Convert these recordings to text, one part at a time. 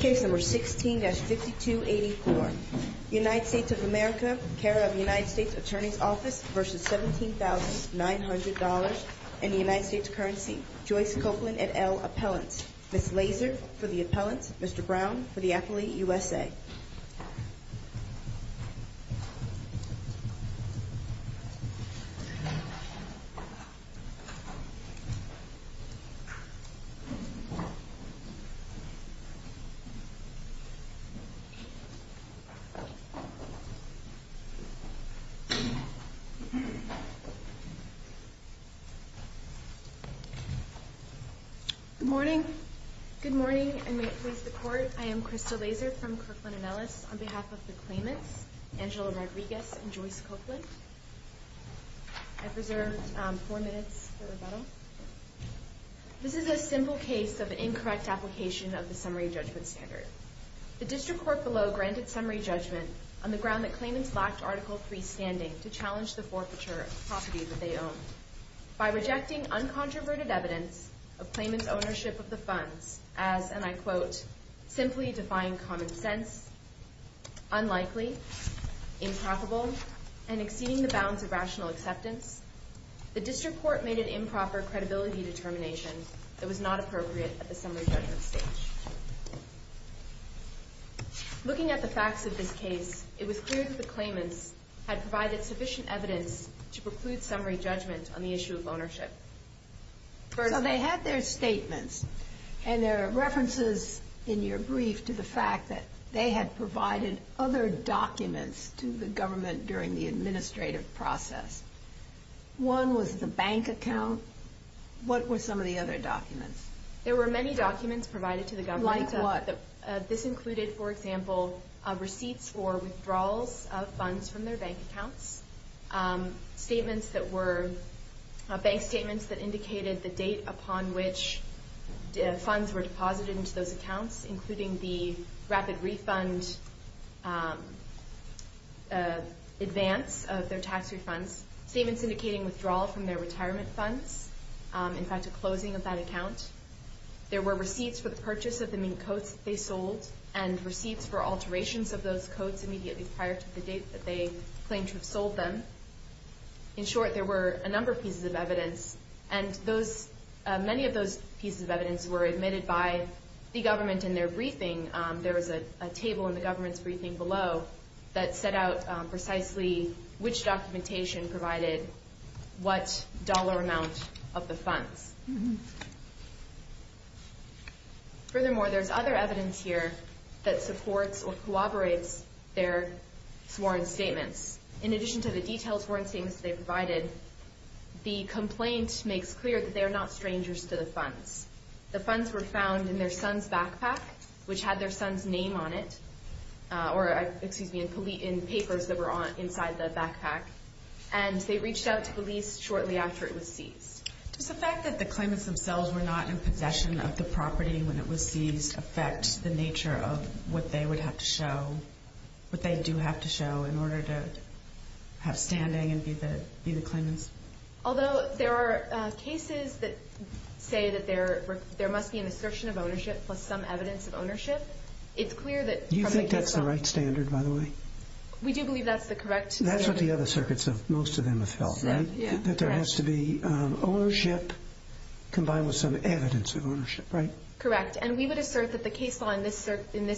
Case number 16-5284. United States of America, care of United States Attorney's Office v. $17,900.00 and the United States currency, Joyce Copeland et al. appellant. Ms. Lazer for the appellant, Mr. Brown for the appellate, USA. Good morning. Good morning and may it please the Court, I am Crystal Lazer from Kirkland & Ellis on behalf of the claimants, Angela Rodriguez and Joyce Copeland. I have reserved four minutes for rebuttal. This is a simple case of incorrect application of the summary judgment standard. The District Court below granted summary judgment on the ground that claimants lacked Article III standing to challenge the forfeiture of property that they own. By rejecting uncontroverted evidence of claimants' ownership of the funds as, and I quote, simply defying common sense, unlikely, improbable, and exceeding the bounds of rational acceptance, the District Court made an improper credibility determination that was not appropriate at the summary judgment stage. Looking at the facts of this case, it was clear that the claimants had provided sufficient evidence to preclude summary judgment on the issue of ownership. So they had their statements and their references in your brief to the fact that they had provided other documents to the government during the administrative process. One was the bank account. What were some of the other documents? There were many documents provided to the government. Like what? This included, for example, receipts for withdrawals of funds from their bank accounts, bank statements that indicated the date upon which funds were deposited into those accounts, including the rapid refund advance of their tax refunds, statements indicating withdrawal from their retirement funds, in fact, a closing of that account. There were receipts for the purchase of the mink coats that they sold and receipts for alterations of those coats immediately prior to the date that they claimed to have sold them. In short, there were a number of pieces of evidence, and many of those pieces of evidence were admitted by the government in their briefing. There was a table in the government's briefing below that set out precisely which documentation provided what dollar amount of the funds. Furthermore, there's other evidence here that supports or corroborates their sworn statements. In addition to the detailed sworn statements they provided, the complaint makes clear that they are not strangers to the funds. The funds were found in their son's backpack, which had their son's name on it, or, excuse me, in papers that were inside the backpack, and they reached out to police shortly after it was seized. Does the fact that the claimants themselves were not in possession of the property when it was seized affect the nature of what they would have to show, what they do have to show, in order to have standing and be the claimants? Although there are cases that say that there must be an assertion of ownership plus some evidence of ownership, it's clear that from the case law... Do you think that's the right standard, by the way? We do believe that's the correct... That's what the other circuits, most of them, have felt, right? That there has to be ownership combined with some evidence of ownership, right? Correct, and we would assert that the case law in this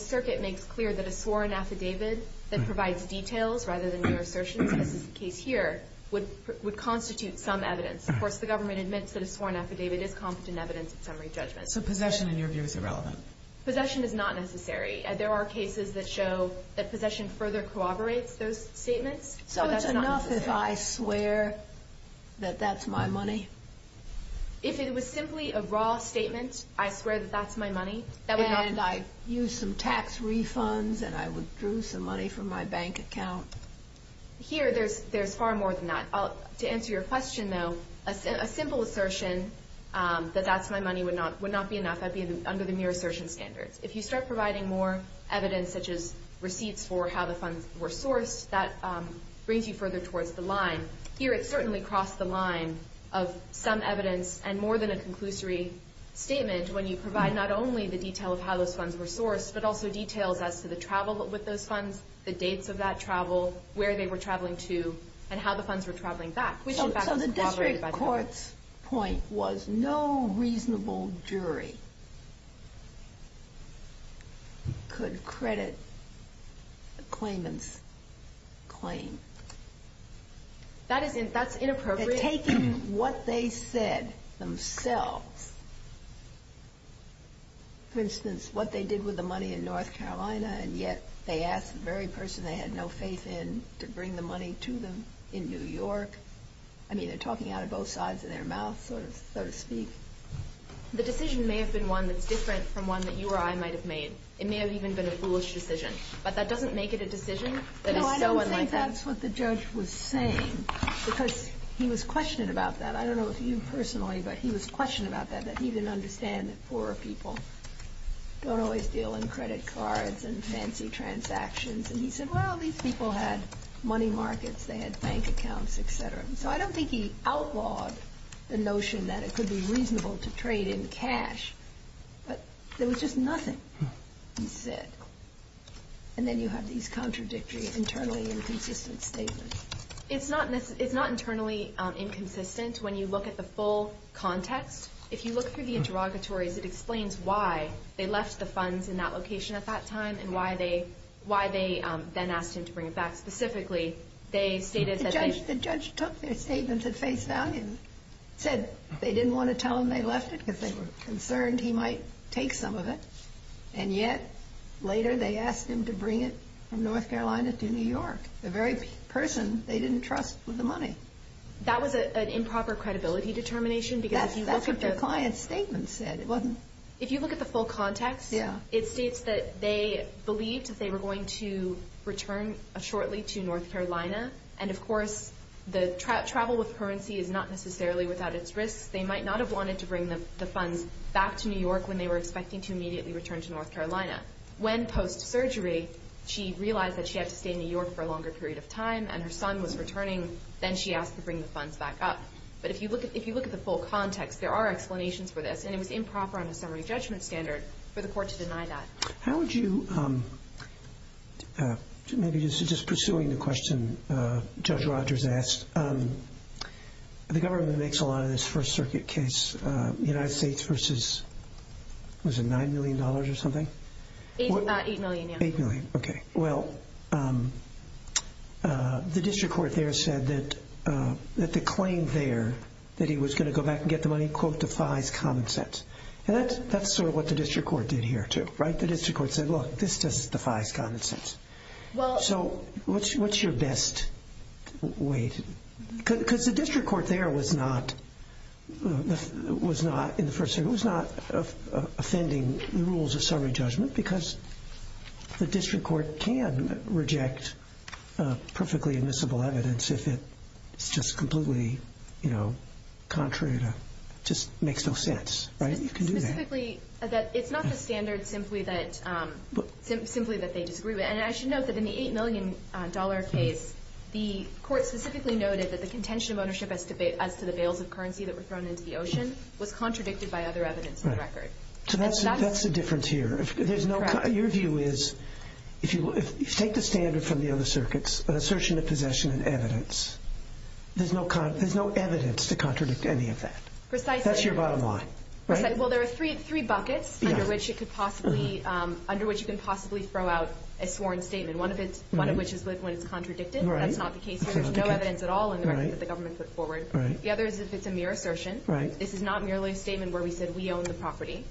circuit makes clear that a sworn affidavit that provides details rather than your assertions, as is the case here, would constitute some evidence. Of course, the government admits that a sworn affidavit is competent evidence of summary judgment. So possession, in your view, is irrelevant? Possession is not necessary. There are cases that show that possession further corroborates those statements, but that's not necessary. So it's enough if I swear that that's my money? If it was simply a raw statement, I swear that that's my money, that would not... And I use some tax refunds and I withdrew some money from my bank account? Here, there's far more than that. To answer your question, though, a simple assertion that that's my money would not be enough. That would be under the mere assertion standards. If you start providing more evidence, such as receipts for how the funds were sourced, that brings you further towards the line. Here, it certainly crossed the line of some evidence and more than a conclusory statement when you provide not only the detail of how those funds were sourced, but also details as to the travel with those funds, the dates of that travel, where they were traveling to, and how the funds were traveling back. So the district court's point was no reasonable jury could credit a claimant's claim. That's inappropriate. Taking what they said themselves, for instance, what they did with the money in North Carolina, and yet they asked the very person they had no faith in to bring the money to them in New York. I mean, they're talking out of both sides of their mouths, so to speak. The decision may have been one that's different from one that you or I might have made. It may have even been a foolish decision. But that doesn't make it a decision that is so unlikely. But that's what the judge was saying, because he was questioning about that. I don't know if you personally, but he was questioning about that, that he didn't understand that poorer people don't always deal in credit cards and fancy transactions. And he said, well, these people had money markets. They had bank accounts, et cetera. So I don't think he outlawed the notion that it could be reasonable to trade in cash. But there was just nothing, he said. And then you have these contradictory, internally inconsistent statements. It's not internally inconsistent when you look at the full context. If you look through the interrogatories, it explains why they left the funds in that location at that time and why they then asked him to bring it back. Specifically, they stated that they – The judge took their statements at face value and said they didn't want to tell him they left it because they were concerned he might take some of it. And yet, later, they asked him to bring it from North Carolina to New York, the very person they didn't trust with the money. That was an improper credibility determination, because if you look at the – That's what your client's statement said. It wasn't – If you look at the full context, it states that they believed that they were going to return shortly to North Carolina. And, of course, the travel with currency is not necessarily without its risks. They might not have wanted to bring the funds back to New York when they were expecting to immediately return to North Carolina. When, post-surgery, she realized that she had to stay in New York for a longer period of time and her son was returning, then she asked to bring the funds back up. But if you look at the full context, there are explanations for this, and it was improper on a summary judgment standard for the court to deny that. How would you – Maybe just pursuing the question Judge Rogers asked, the government makes a lot of this First Circuit case, United States versus, what is it, $9 million or something? About $8 million, yeah. $8 million, okay. Well, the district court there said that the claim there, that he was going to go back and get the money, quote, defies common sense. And that's sort of what the district court did here, too, right? The district court said, look, this just defies common sense. So what's your best way to – because the district court there was not, in the First Circuit, was not offending the rules of summary judgment because the district court can reject perfectly admissible evidence if it's just completely contrary to – just makes no sense, right? You can do that. Specifically that it's not the standard simply that they disagree with. And I should note that in the $8 million case, the court specifically noted that the contention of ownership as to the bales of currency that were thrown into the ocean was contradicted by other evidence on the record. So that's the difference here. Your view is if you take the standard from the other circuits, an assertion of possession and evidence, there's no evidence to contradict any of that. Precisely. That's your bottom line, right? Well, there are three buckets under which it could possibly – one of which is when it's contradicted. That's not the case here. There's no evidence at all in the record that the government put forward. The other is if it's a mere assertion. This is not merely a statement where we said we own the property.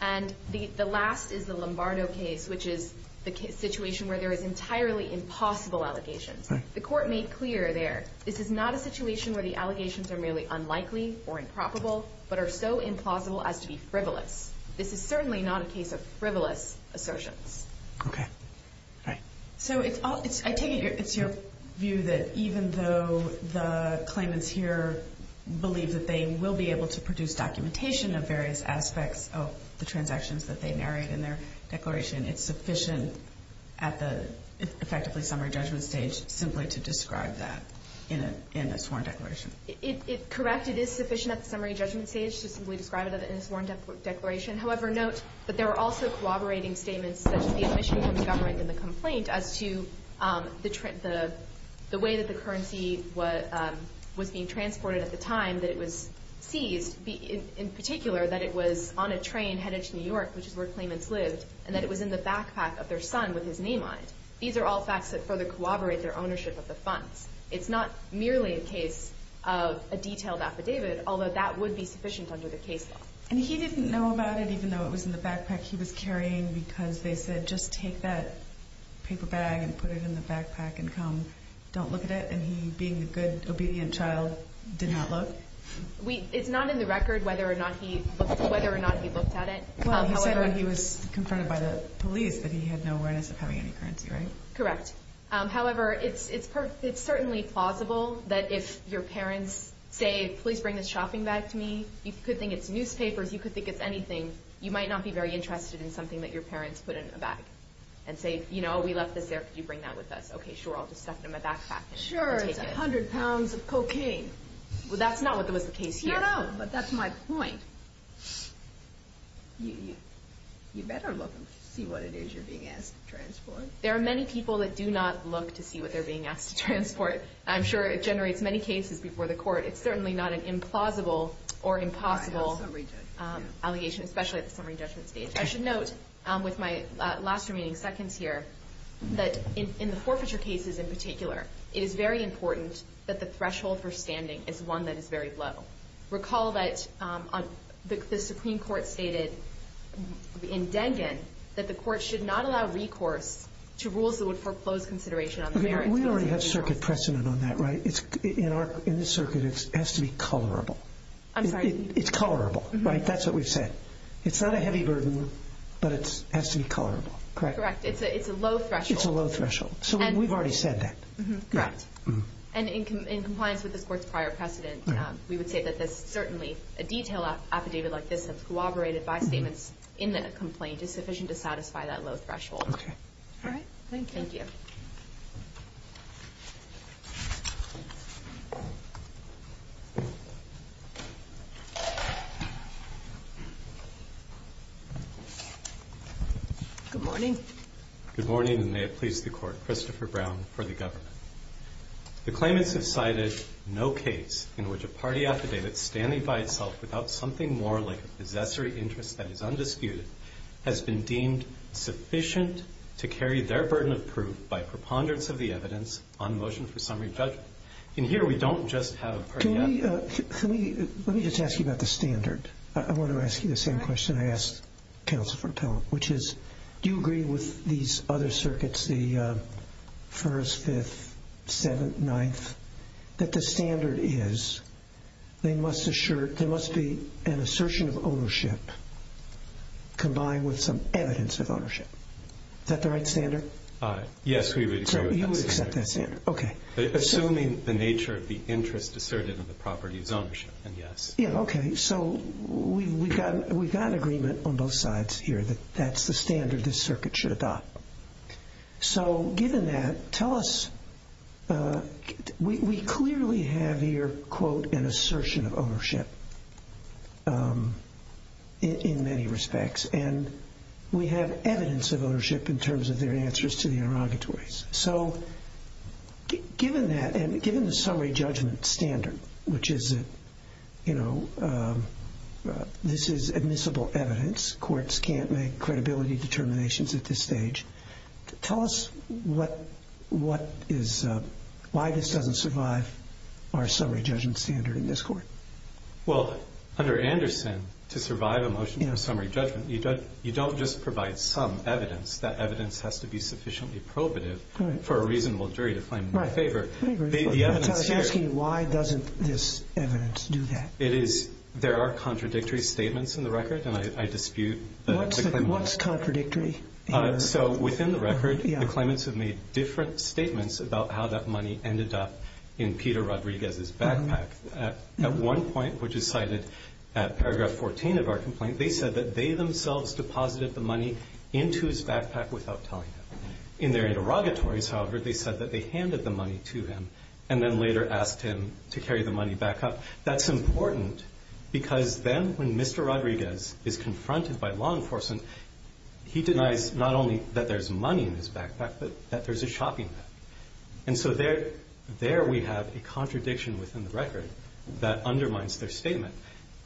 And the last is the Lombardo case, which is the situation where there is entirely impossible allegations. The court made clear there this is not a situation where the allegations are merely unlikely or improbable but are so implausible as to be frivolous. This is certainly not a case of frivolous assertions. Okay. All right. So I take it it's your view that even though the claimants here believe that they will be able to produce documentation of various aspects of the transactions that they narrated in their declaration, it's sufficient at the effectively summary judgment stage simply to describe that in a sworn declaration. Correct. It is sufficient at the summary judgment stage to simply describe it in a sworn declaration. However, note that there are also corroborating statements such as the admission from the government in the complaint as to the way that the currency was being transported at the time that it was seized, in particular that it was on a train headed to New York, which is where claimants lived, and that it was in the backpack of their son with his name on it. These are all facts that further corroborate their ownership of the funds. It's not merely a case of a detailed affidavit, although that would be sufficient under the case law. And he didn't know about it even though it was in the backpack he was carrying because they said just take that paper bag and put it in the backpack and come. Don't look at it. And he, being a good, obedient child, did not look? It's not in the record whether or not he looked at it. Well, he said when he was confronted by the police that he had no awareness of having any currency, right? Correct. However, it's certainly plausible that if your parents say, please bring this shopping bag to me, you could think it's newspapers, you could think it's anything, you might not be very interested in something that your parents put in a bag and say, you know, we left this there, could you bring that with us? Okay, sure, I'll just stuff it in my backpack and take it. Sure, it's 100 pounds of cocaine. Well, that's not what was the case here. No, no, but that's my point. You better look and see what it is you're being asked to transport. There are many people that do not look to see what they're being asked to transport. I'm sure it generates many cases before the court. It's certainly not an implausible or impossible allegation, especially at the summary judgment stage. I should note with my last remaining seconds here that in the forfeiture cases in particular, it is very important that the threshold for standing is one that is very low. Recall that the Supreme Court stated in Dengan that the court should not allow recourse to rules that would foreclose consideration on the merits. We already have circuit precedent on that, right? In this circuit, it has to be colorable. I'm sorry? It's colorable, right? That's what we've said. It's not a heavy burden, but it has to be colorable, correct? Correct. It's a low threshold. It's a low threshold, so we've already said that. Correct. And in compliance with this court's prior precedent, we would say that there's certainly a detail affidavit like this that's corroborated by statements in the complaint is sufficient to satisfy that low threshold. Okay. All right, thank you. Thank you. Good morning. Good morning, and may it please the Court. Christopher Brown for the government. The claimants have cited no case in which a party affidavit standing by itself without something more like a possessory interest that is undisputed has been deemed sufficient to carry their burden of proof by preponderance of the evidence on motion for summary judgment. And here we don't just have a party affidavit. Let me just ask you about the standard. I want to ask you the same question I asked Counsel for appellate, which is do you agree with these other circuits, the First, Fifth, Seventh, Ninth, that the standard is there must be an assertion of ownership combined with some evidence of ownership. Is that the right standard? Yes, we agree with that standard. So you accept that standard. Okay. Assuming the nature of the interest asserted in the property is ownership, and yes. Yeah, okay. So we've got an agreement on both sides here that that's the standard this circuit should adopt. So given that, tell us, we clearly have here, quote, an assertion of ownership in many respects, and we have evidence of ownership in terms of their answers to the interrogatories. So given that, and given the summary judgment standard, which is, you know, this is admissible evidence. Courts can't make credibility determinations at this stage. Tell us why this doesn't survive our summary judgment standard in this court. Well, under Anderson, to survive a motion for summary judgment, you don't just provide some evidence. That evidence has to be sufficiently probative for a reasonable jury to claim it in their favor. I was asking why doesn't this evidence do that? There are contradictory statements in the record, and I dispute the claimants. What's contradictory here? So within the record, the claimants have made different statements about how that money ended up in Peter Rodriguez's backpack. At one point, which is cited at paragraph 14 of our complaint, they said that they themselves deposited the money into his backpack without telling him. In their interrogatories, however, they said that they handed the money to him and then later asked him to carry the money back up. That's important because then when Mr. Rodriguez is confronted by law enforcement, he denies not only that there's money in his backpack, but that there's a shopping bag. And so there we have a contradiction within the record that undermines their statement,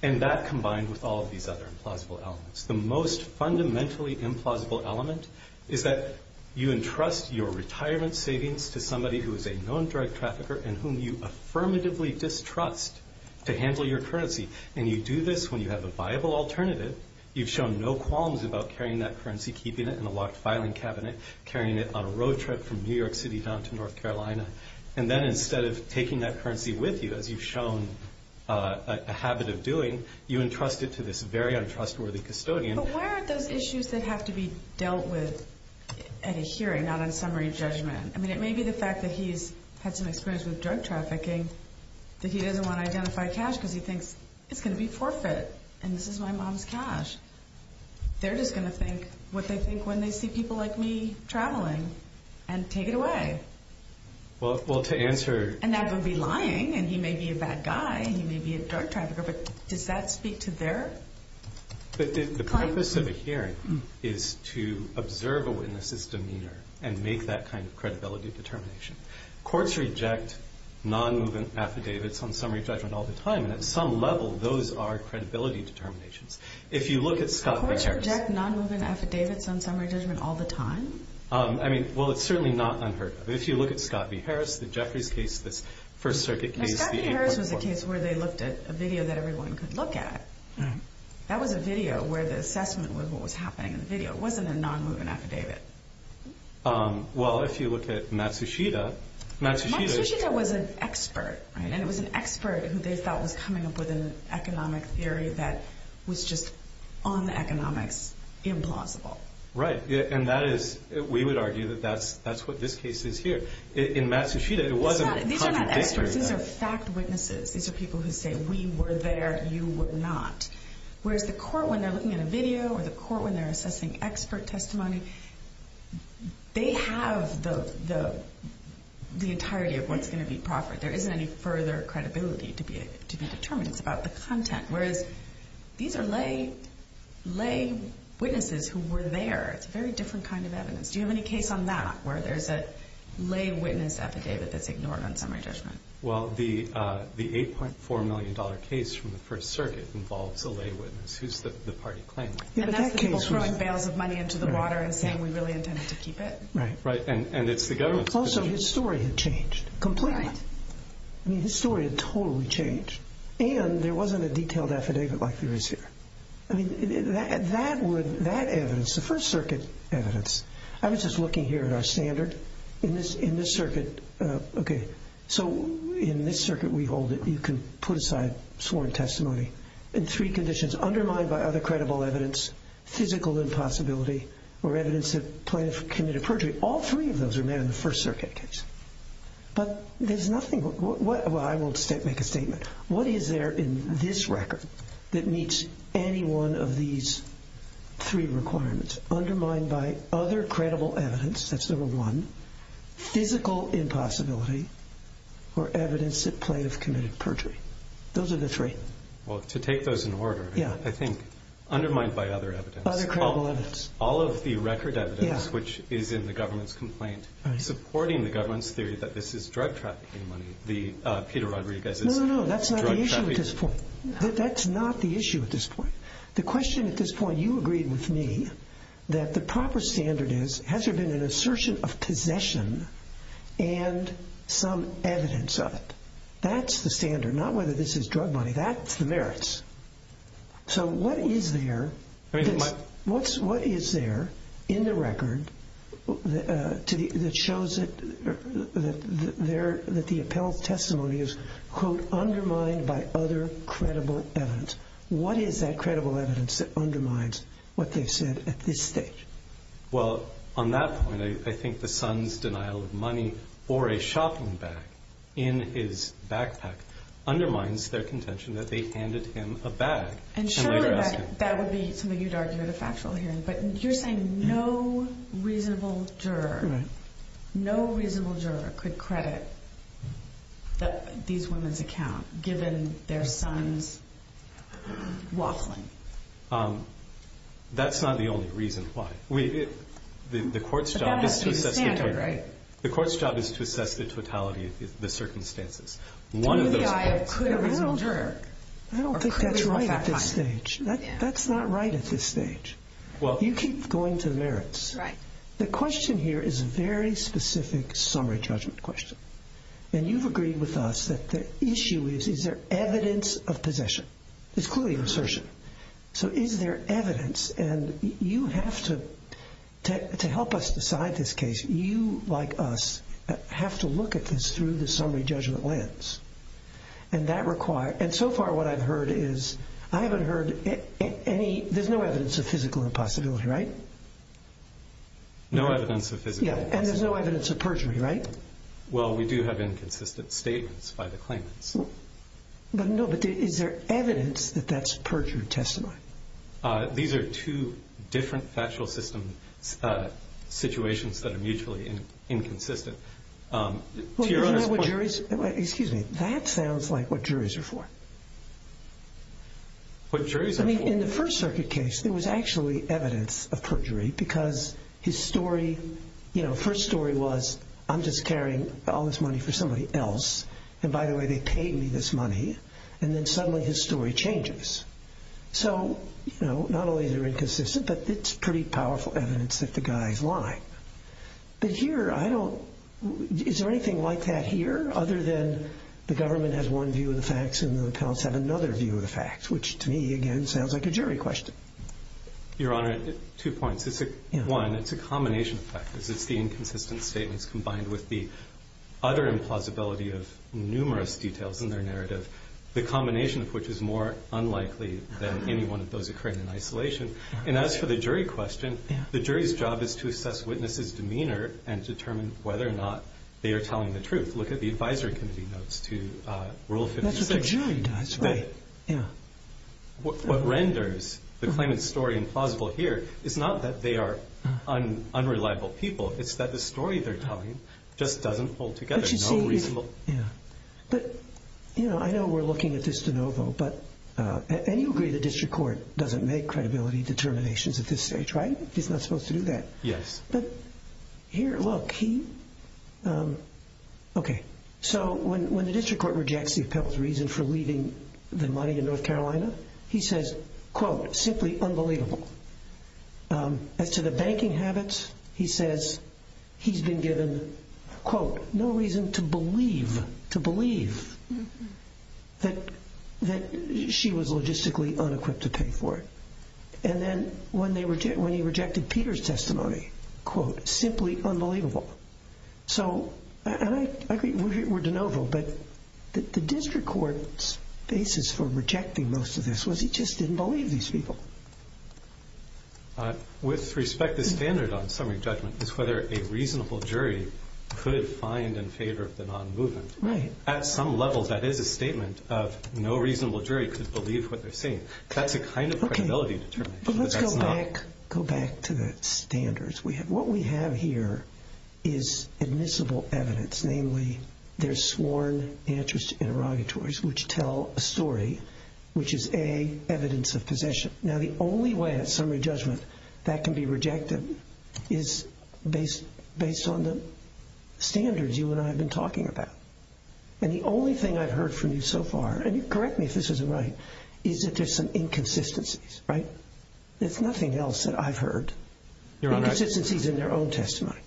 and that combined with all of these other implausible elements. The most fundamentally implausible element is that you entrust your retirement savings to somebody who is a known drug trafficker and whom you affirmatively distrust to handle your currency. And you do this when you have a viable alternative. You've shown no qualms about carrying that currency, keeping it in a locked filing cabinet, carrying it on a road trip from New York City down to North Carolina. And then instead of taking that currency with you, as you've shown a habit of doing, you entrust it to this very untrustworthy custodian. But why aren't those issues that have to be dealt with at a hearing, not on summary judgment? I mean, it may be the fact that he's had some experience with drug trafficking, that he doesn't want to identify cash because he thinks it's going to be forfeit and this is my mom's cash. They're just going to think what they think when they see people like me traveling and take it away. And that would be lying, and he may be a bad guy, he may be a drug trafficker, but does that speak to their claim? The purpose of a hearing is to observe a witness' demeanor and make that kind of credibility determination. Courts reject non-movement affidavits on summary judgment all the time, and at some level those are credibility determinations. If you look at Scott v. Harris. Courts reject non-movement affidavits on summary judgment all the time? Well, it's certainly not unheard of. If you look at Scott v. Harris, the Jeffries case, this First Circuit case, the 8.1. Scott v. Harris was a case where they looked at a video that everyone could look at. That was a video where the assessment was what was happening in the video. It wasn't a non-movement affidavit. Well, if you look at Matsushita. Matsushita was an expert, and it was an expert who they thought was coming up with an economic theory that was just on the economics implausible. Right, and that is, we would argue that that's what this case is here. In Matsushita, it wasn't. These are not experts. These are fact witnesses. These are people who say we were there, you were not. Whereas the court, when they're looking at a video or the court when they're assessing expert testimony, they have the entirety of what's going to be proffered. There isn't any further credibility to be determined. It's about the content. Whereas these are lay witnesses who were there. It's a very different kind of evidence. Do you have any case on that where there's a lay witness affidavit that's ignored on summary judgment? Well, the $8.4 million case from the First Circuit involves a lay witness who's the party claimant. And that's the people throwing bales of money into the water and saying we really intended to keep it. Right, and it's the government's position. Also, his story had changed completely. Right. I mean, his story had totally changed. And there wasn't a detailed affidavit like there is here. I mean, that would, that evidence, the First Circuit evidence, I was just looking here at our standard. In this circuit, okay, so in this circuit we hold it, you can put aside sworn testimony in three conditions, undermined by other credible evidence, physical impossibility, or evidence of plaintiff committed perjury. All three of those are made in the First Circuit case. But there's nothing, well, I will make a statement. What is there in this record that meets any one of these three requirements? Undermined by other credible evidence, that's number one, physical impossibility, or evidence of plaintiff committed perjury. Those are the three. Well, to take those in order, I think undermined by other evidence. Other credible evidence. All of the record evidence, which is in the government's complaint, supporting the government's theory that this is drug trafficking money, the Peter Rodriguez's drug trafficking money. No, no, no, that's not the issue at this point. That's not the issue at this point. The question at this point, you agreed with me that the proper standard is, has there been an assertion of possession and some evidence of it? That's the standard, not whether this is drug money. That's the merits. So what is there in the record that shows that the appellate testimony is, quote, undermined by other credible evidence? What is that credible evidence that undermines what they've said at this stage? Well, on that point, I think the son's denial of money or a shopping bag in his backpack undermines their contention that they handed him a bag and later asked him. And surely that would be something you'd argue at a factual hearing. But you're saying no reasonable juror, no reasonable juror could credit these women's account given their son's waffling. That's not the only reason why. The court's job is to assess the totality of the circumstances. I don't think that's right at this stage. That's not right at this stage. You keep going to merits. The question here is a very specific summary judgment question. And you've agreed with us that the issue is, is there evidence of possession? There's clearly an assertion. So is there evidence? And you have to, to help us decide this case, you, like us, have to look at this through the summary judgment lens. And that requires, and so far what I've heard is, I haven't heard any, there's no evidence of physical impossibility, right? No evidence of physical impossibility. And there's no evidence of perjury, right? Well, we do have inconsistent statements by the claimants. But no, but is there evidence that that's perjury testimony? These are two different factual system situations that are mutually inconsistent. Well, isn't that what juries, excuse me, that sounds like what juries are for. What juries are for? I mean, in the First Circuit case, there was actually evidence of perjury because his story, you know, first story was, I'm just carrying all this money for somebody else. And by the way, they paid me this money. And then suddenly his story changes. So, you know, not only are they inconsistent, but it's pretty powerful evidence that the guys lie. But here, I don't, is there anything like that here, other than the government has one view of the facts and the appellants have another view of the facts, which to me, again, sounds like a jury question. Your Honor, two points. One, it's a combination of factors. It's the inconsistent statements combined with the utter implausibility of numerous details in their narrative, the combination of which is more unlikely than any one of those occurring in isolation. And as for the jury question, the jury's job is to assess witnesses' demeanor and determine whether or not they are telling the truth. Look at the advisory committee notes to Rule 57. That's what the jury does, right. What renders the claimant's story implausible here is not that they are unreliable people. It's that the story they're telling just doesn't hold together. But, you know, I know we're looking at this de novo, and you agree the district court doesn't make credibility determinations at this stage, right? It's not supposed to do that. Yes. But here, look, he, um, okay. So when the district court rejects the appellant's reason for leaving the money in North Carolina, he says, quote, simply unbelievable. As to the banking habits, he says he's been given, quote, no reason to believe, to believe that she was logistically unequipped to pay for it. And then when he rejected Peter's testimony, quote, simply unbelievable. So, and I agree, we're de novo, but the district court's basis for rejecting most of this was he just didn't believe these people. With respect, the standard on summary judgment is whether a reasonable jury could find in favor of the non-movement. Right. At some level, that is a statement of no reasonable jury could believe what they're saying. That's a kind of credibility determination. But let's go back, go back to the standards. What we have here is admissible evidence. Namely, there's sworn answers to interrogatories which tell a story, which is, A, evidence of possession. Now, the only way that summary judgment that can be rejected is based on the standards you and I have been talking about. And the only thing I've heard from you so far, and correct me if this isn't right, is that there's some inconsistencies. Right? There's nothing else that I've heard. Your Honor, I think... Inconsistencies in their own testimony.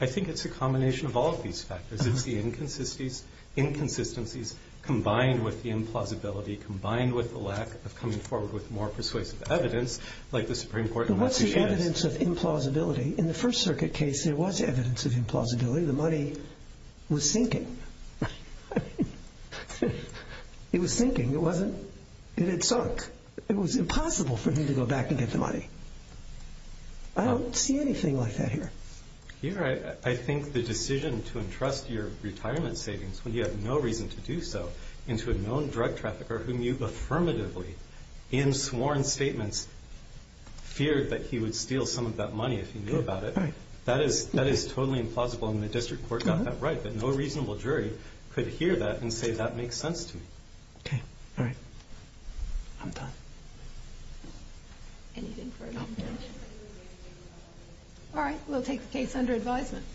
I think it's a combination of all of these factors. It's the inconsistencies combined with the implausibility combined with the lack of coming forward with more persuasive evidence, like the Supreme Court in Massachusetts... But what's the evidence of implausibility? In the First Circuit case, there was evidence of implausibility. The money was sinking. I mean... It was sinking. It wasn't... It had sunk. It was impossible for him to go back and get the money. I don't see anything like that here. Your Honor, I think the decision to entrust your retirement savings, when you have no reason to do so, into a known drug trafficker whom you affirmatively, in sworn statements, feared that he would steal some of that money if he knew about it, that is totally implausible. And the District Court got that right. But no reasonable jury could hear that and say, that makes sense to me. Okay. All right. I'm done. Anything for a moment of silence? All right. We'll take the case under advisement.